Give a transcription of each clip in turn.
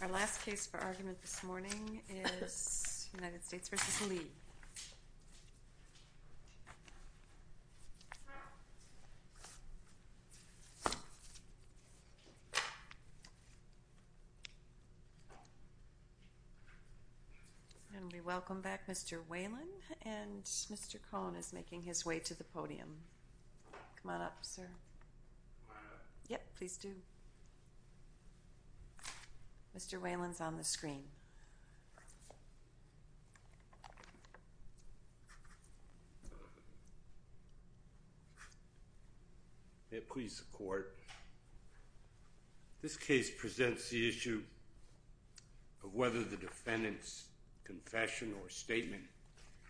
Our last case for argument this morning is United States v. Lee. And we welcome back Mr. Whelan and Mr. Cohn is making his way to the podium. Come on up, sir. Yep, please do. Mr. Whelan's on the screen. Yeah, please support. This case presents the issue of whether the defendant's confession or statement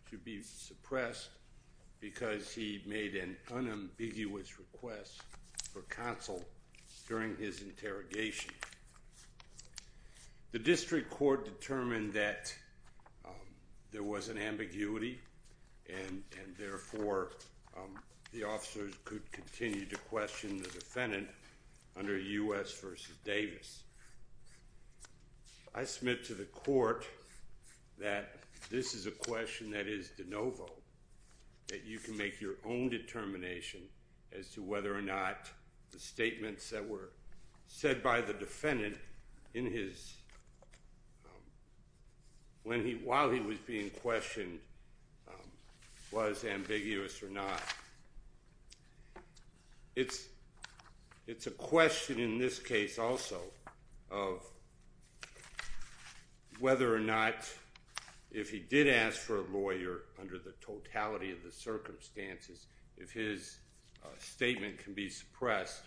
should be suppressed because he made an unambiguous request for counsel during his interrogation. The district court determined that there was an ambiguity and therefore the officers could continue to question the defendant under U.S. v. Davis. I submit to the court that this is a question that is de novo, that you can make your own determination as to whether or not the statements that were said by the defendant while he was being questioned was ambiguous or not. It's a question in this case also of whether or not if he did ask for a lawyer under the totality of the circumstances, if his statement can be suppressed,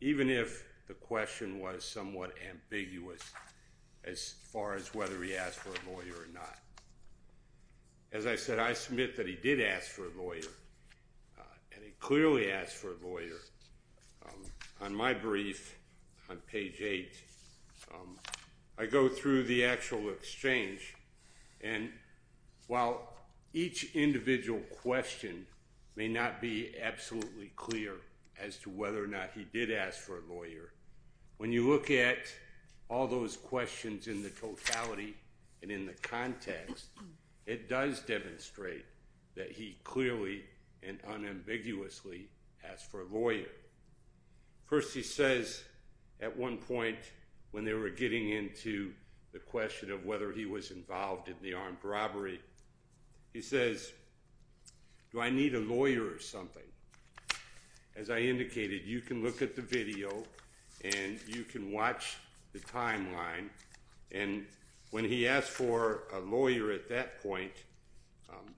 even if the question was somewhat ambiguous as far as whether he asked for a lawyer or not. As I said, I submit that he did ask for a lawyer and he clearly asked for a lawyer. On my brief, on page 8, I go through the actual exchange, and while each individual question may not be absolutely clear as to whether or not he did ask for a lawyer, when you look at all those questions in the totality and in the context, it does demonstrate that he clearly and unambiguously asked for a lawyer. First, he says at one point when they were getting into the question of whether he was involved in the armed robbery, he says, do I need a lawyer or something? As I indicated, you can look at the video and you can watch the timeline, and when he asked for a lawyer at that point,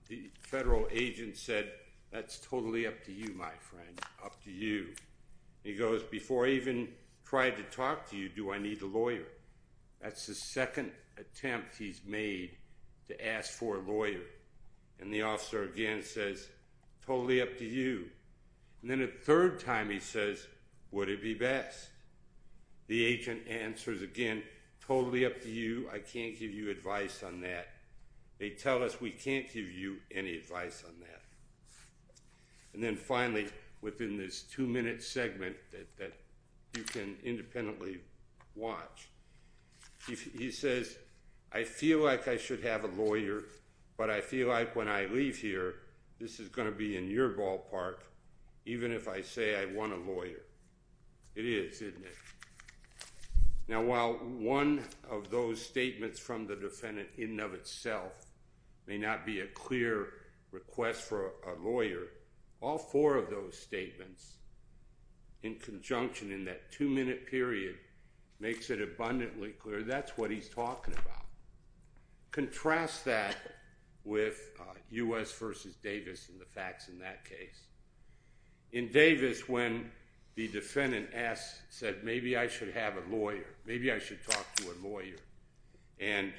the federal agent said, that's totally up to you, my friend, up to you. He goes, before I even tried to talk to you, do I need a lawyer? That's the second attempt he's made to ask for a lawyer. And the officer again says, totally up to you. And then a third time he says, would it be best? The agent answers again, totally up to you, I can't give you advice on that. They tell us we can't give you any advice on that. And then finally, within this two-minute segment that you can independently watch, he says, I feel like I should have a lawyer, but I feel like when I leave here, this is going to be in your ballpark, even if I say I want a lawyer. It is, isn't it? Now, while one of those statements from the defendant in and of itself may not be a clear request for a lawyer, all four of those statements in conjunction in that two-minute period makes it abundantly clear that's what he's talking about. Contrast that with U.S. v. Davis and the facts in that case. In Davis, when the defendant said, maybe I should have a lawyer, maybe I should talk to a lawyer, and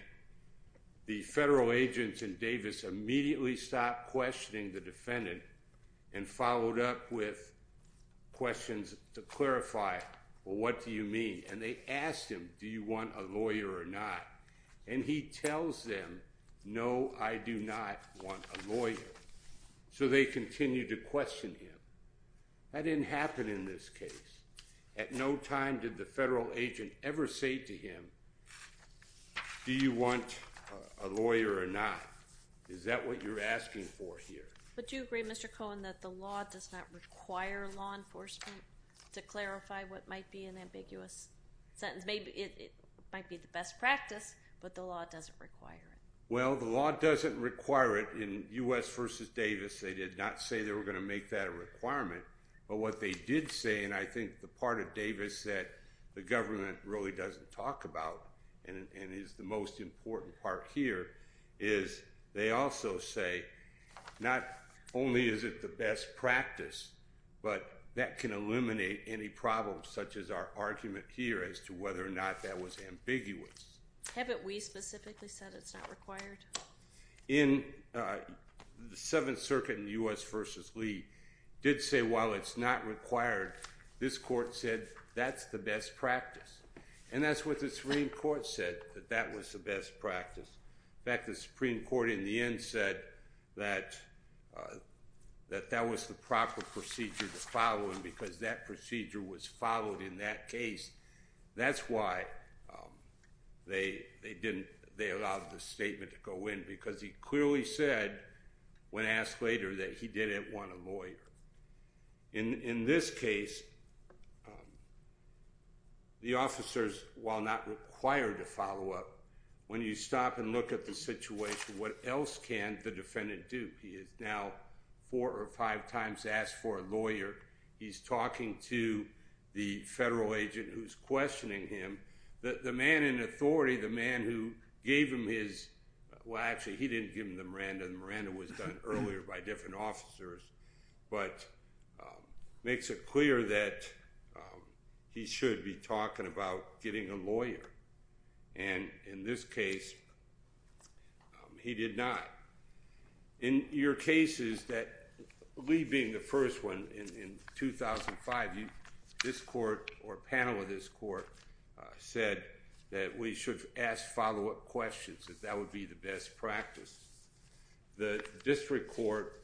the federal agents in Davis immediately stopped questioning the defendant and followed up with questions to clarify, well, what do you mean? And they asked him, do you want a lawyer or not? And he tells them, no, I do not want a lawyer. So they continue to question him. That didn't happen in this case. At no time did the federal agent ever say to him, do you want a lawyer or not? Is that what you're asking for here? But do you agree, Mr. Cohen, that the law does not require law enforcement to clarify what might be an ambiguous sentence? It might be the best practice, but the law doesn't require it. Well, the law doesn't require it in U.S. v. Davis. They did not say they were going to make that a requirement. But what they did say, and I think the part of Davis that the government really doesn't talk about and is the most important part here, is they also say not only is it the best practice, but that can eliminate any problems such as our argument here as to whether or not that was ambiguous. Haven't we specifically said it's not required? In the Seventh Circuit in U.S. v. Lee did say while it's not required, this court said that's the best practice. And that's what the Supreme Court said, that that was the best practice. In fact, the Supreme Court in the end said that that was the proper procedure to follow, and because that procedure was followed in that case, that's why they allowed the statement to go in, because he clearly said when asked later that he didn't want a lawyer. In this case, the officers, while not required to follow up, when you stop and look at the situation, what else can the defendant do? He has now four or five times asked for a lawyer. He's talking to the federal agent who's questioning him. The man in authority, the man who gave him his, well actually he didn't give him the Miranda, the Miranda was done earlier by different officers, but makes it clear that he should be talking about getting a lawyer. And in this case, he did not. In your cases that, Lee being the first one, in 2005, this court or a panel of this court said that we should ask follow-up questions, that that would be the best practice. The district court,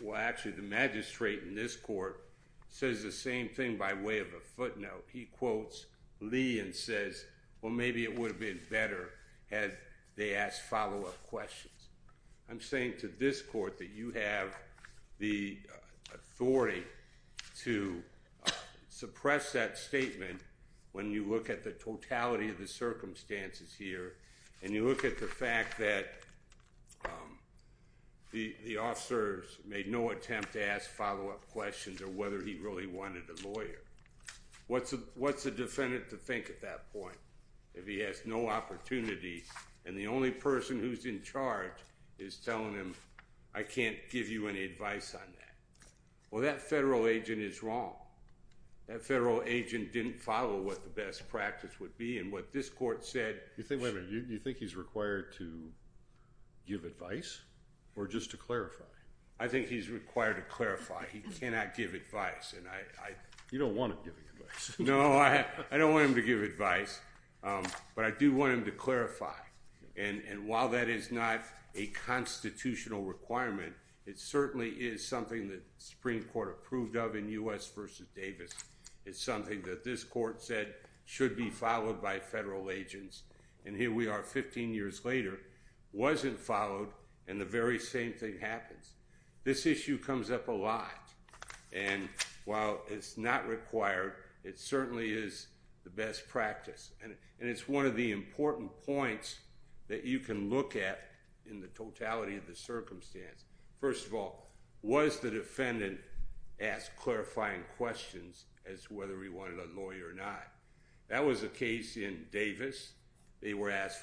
well actually the magistrate in this court, says the same thing by way of a footnote. He quotes Lee and says, well maybe it would have been better had they asked follow-up questions. I'm saying to this court that you have the authority to suppress that statement when you look at the totality of the circumstances here, and you look at the fact that the officers made no attempt to ask follow-up questions or whether he really wanted a lawyer. What's a defendant to think at that point if he has no opportunity and the only person who's in charge is telling him, I can't give you any advice on that. Well that federal agent is wrong. That federal agent didn't follow what the best practice would be and what this court said. You think, wait a minute, you think he's required to give advice or just to clarify? I think he's required to clarify. He cannot give advice. You don't want him giving advice. No, I don't want him to give advice, but I do want him to clarify. And while that is not a constitutional requirement, it certainly is something that the Supreme Court approved of in U.S. v. Davis. It's something that this court said should be followed by federal agents, and here we are 15 years later, wasn't followed, and the very same thing happens. This issue comes up a lot, and while it's not required, it certainly is the best practice. And it's one of the important points that you can look at in the totality of the circumstance. First of all, was the defendant asked clarifying questions as to whether he wanted a lawyer or not? That was the case in Davis. They were asked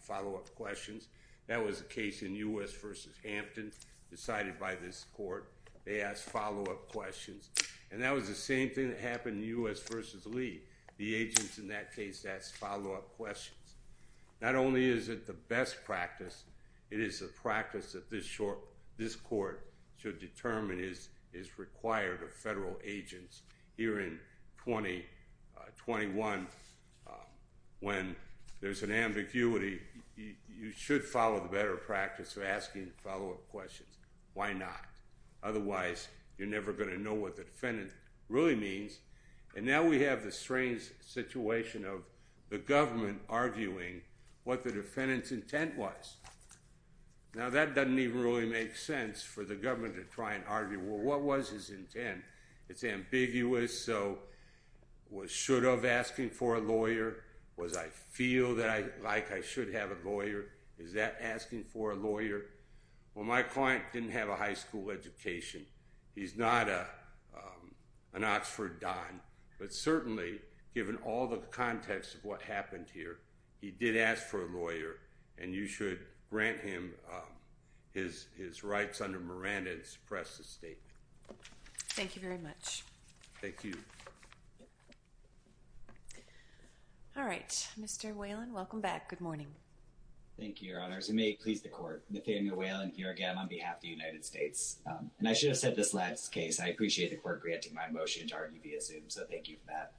follow-up questions. That was the case in U.S. v. Hampton decided by this court. They asked follow-up questions, and that was the same thing that happened in U.S. v. Lee. The agents in that case asked follow-up questions. Not only is it the best practice, it is a practice that this court should determine is required of federal agents. Here in 2021, when there's an ambiguity, you should follow the better practice of asking follow-up questions. Why not? Otherwise, you're never going to know what the defendant really means. And now we have the strange situation of the government arguing what the defendant's intent was. Now, that doesn't even really make sense for the government to try and argue, well, what was his intent? It's ambiguous, so was should of asking for a lawyer? Was I feel like I should have a lawyer? Is that asking for a lawyer? Well, my client didn't have a high school education. He's not an Oxford don, but certainly, given all the context of what happened here, he did ask for a lawyer, and you should grant him his rights under Miranda and suppress the statement. Thank you very much. Thank you. All right. Mr. Whalen, welcome back. Good morning. Thank you, Your Honors. And may it please the court, Nathaniel Whalen here again on behalf of the United States. And I should have said this last case. I appreciate the court granting my motion to argue via Zoom, so thank you for that.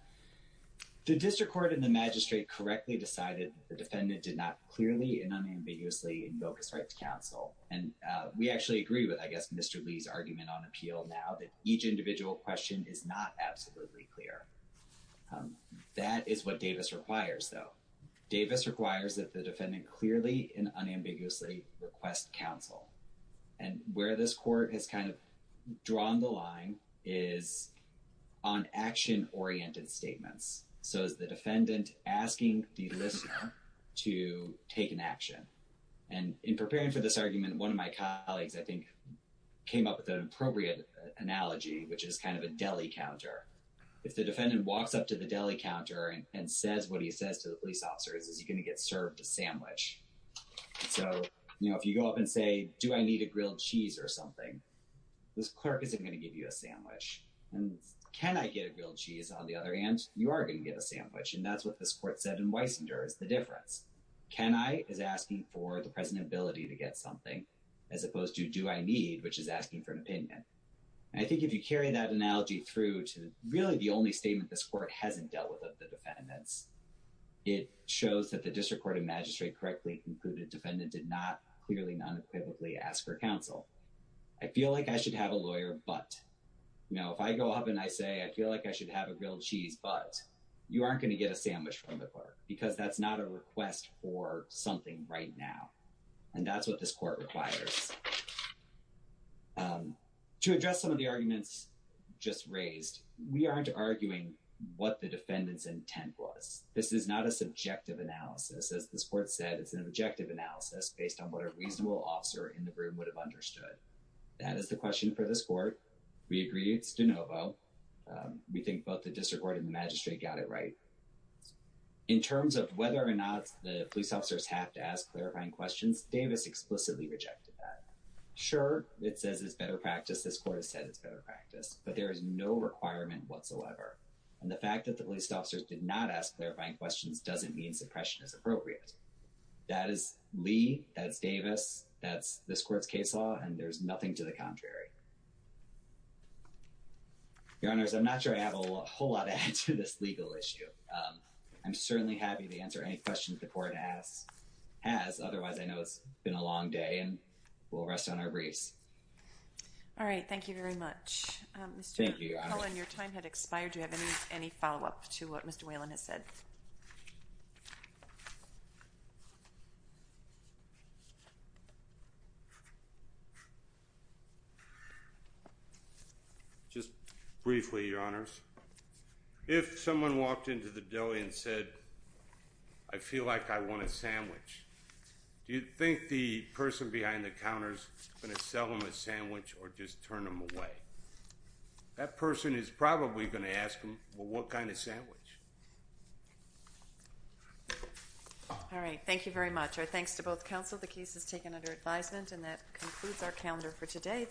The district court and the magistrate correctly decided the defendant did not clearly and unambiguously invoke his right to counsel. And we actually agree with, I guess, Mr. Lee's argument on appeal now that each individual question is not absolutely clear. That is what Davis requires, though. Davis requires that the defendant clearly and unambiguously request counsel. And where this court has kind of drawn the line is on action-oriented statements. So is the defendant asking the listener to take an action? And in preparing for this argument, one of my colleagues, I think, came up with an appropriate analogy, which is kind of a deli counter. If the defendant walks up to the deli counter and says what he says to the police officers, is he going to get served a sandwich? So, you know, if you go up and say, do I need a grilled cheese or something, this clerk isn't going to give you a sandwich. And can I get a grilled cheese, on the other hand, you are going to get a sandwich. And that's what this court said in Weisinger is the difference. Can I is asking for the present ability to get something as opposed to do I need, which is asking for an opinion. I think if you carry that analogy through to really the only statement this court hasn't dealt with of the defendants, it shows that the district court of magistrate correctly concluded defendant did not clearly, unequivocally ask for counsel. I feel like I should have a lawyer, but, you know, if I go up and I say, I feel like I should have a grilled cheese, but you aren't going to get a sandwich from the clerk because that's not a request for something right now. And that's what this court requires. To address some of the arguments just raised, we aren't arguing what the defendant's intent was. This is not a subjective analysis, as this court said. It's an objective analysis based on what a reasonable officer in the room would have understood. That is the question for this court. We agree. It's de novo. We think both the district court and the magistrate got it right. In terms of whether or not the police officers have to ask clarifying questions, Davis explicitly rejected that. Sure, it says it's better practice. This court has said it's better practice, but there is no requirement whatsoever. And the fact that the police officers did not ask clarifying questions doesn't mean suppression is appropriate. That is Lee, that's Davis, that's this court's case law, and there's nothing to the contrary. Your Honor, I'm not sure I have a whole lot to add to this legal issue. I'm certainly happy to answer any questions the court has. Otherwise, I know it's been a long day and we'll rest on our wreaths. All right. Thank you very much. Thank you. Your time had expired. Do you have any follow up to what Mr. Whalen has said? Just briefly, Your Honors. If someone walked into the deli and said, I feel like I want a sandwich, do you think the person behind the counter is going to sell him a sandwich or just turn him away? That person is probably going to ask him, well, what kind of sandwich? All right. Thank you very much. Our thanks to both counsel. The case is taken under advisement and that concludes our calendar for today.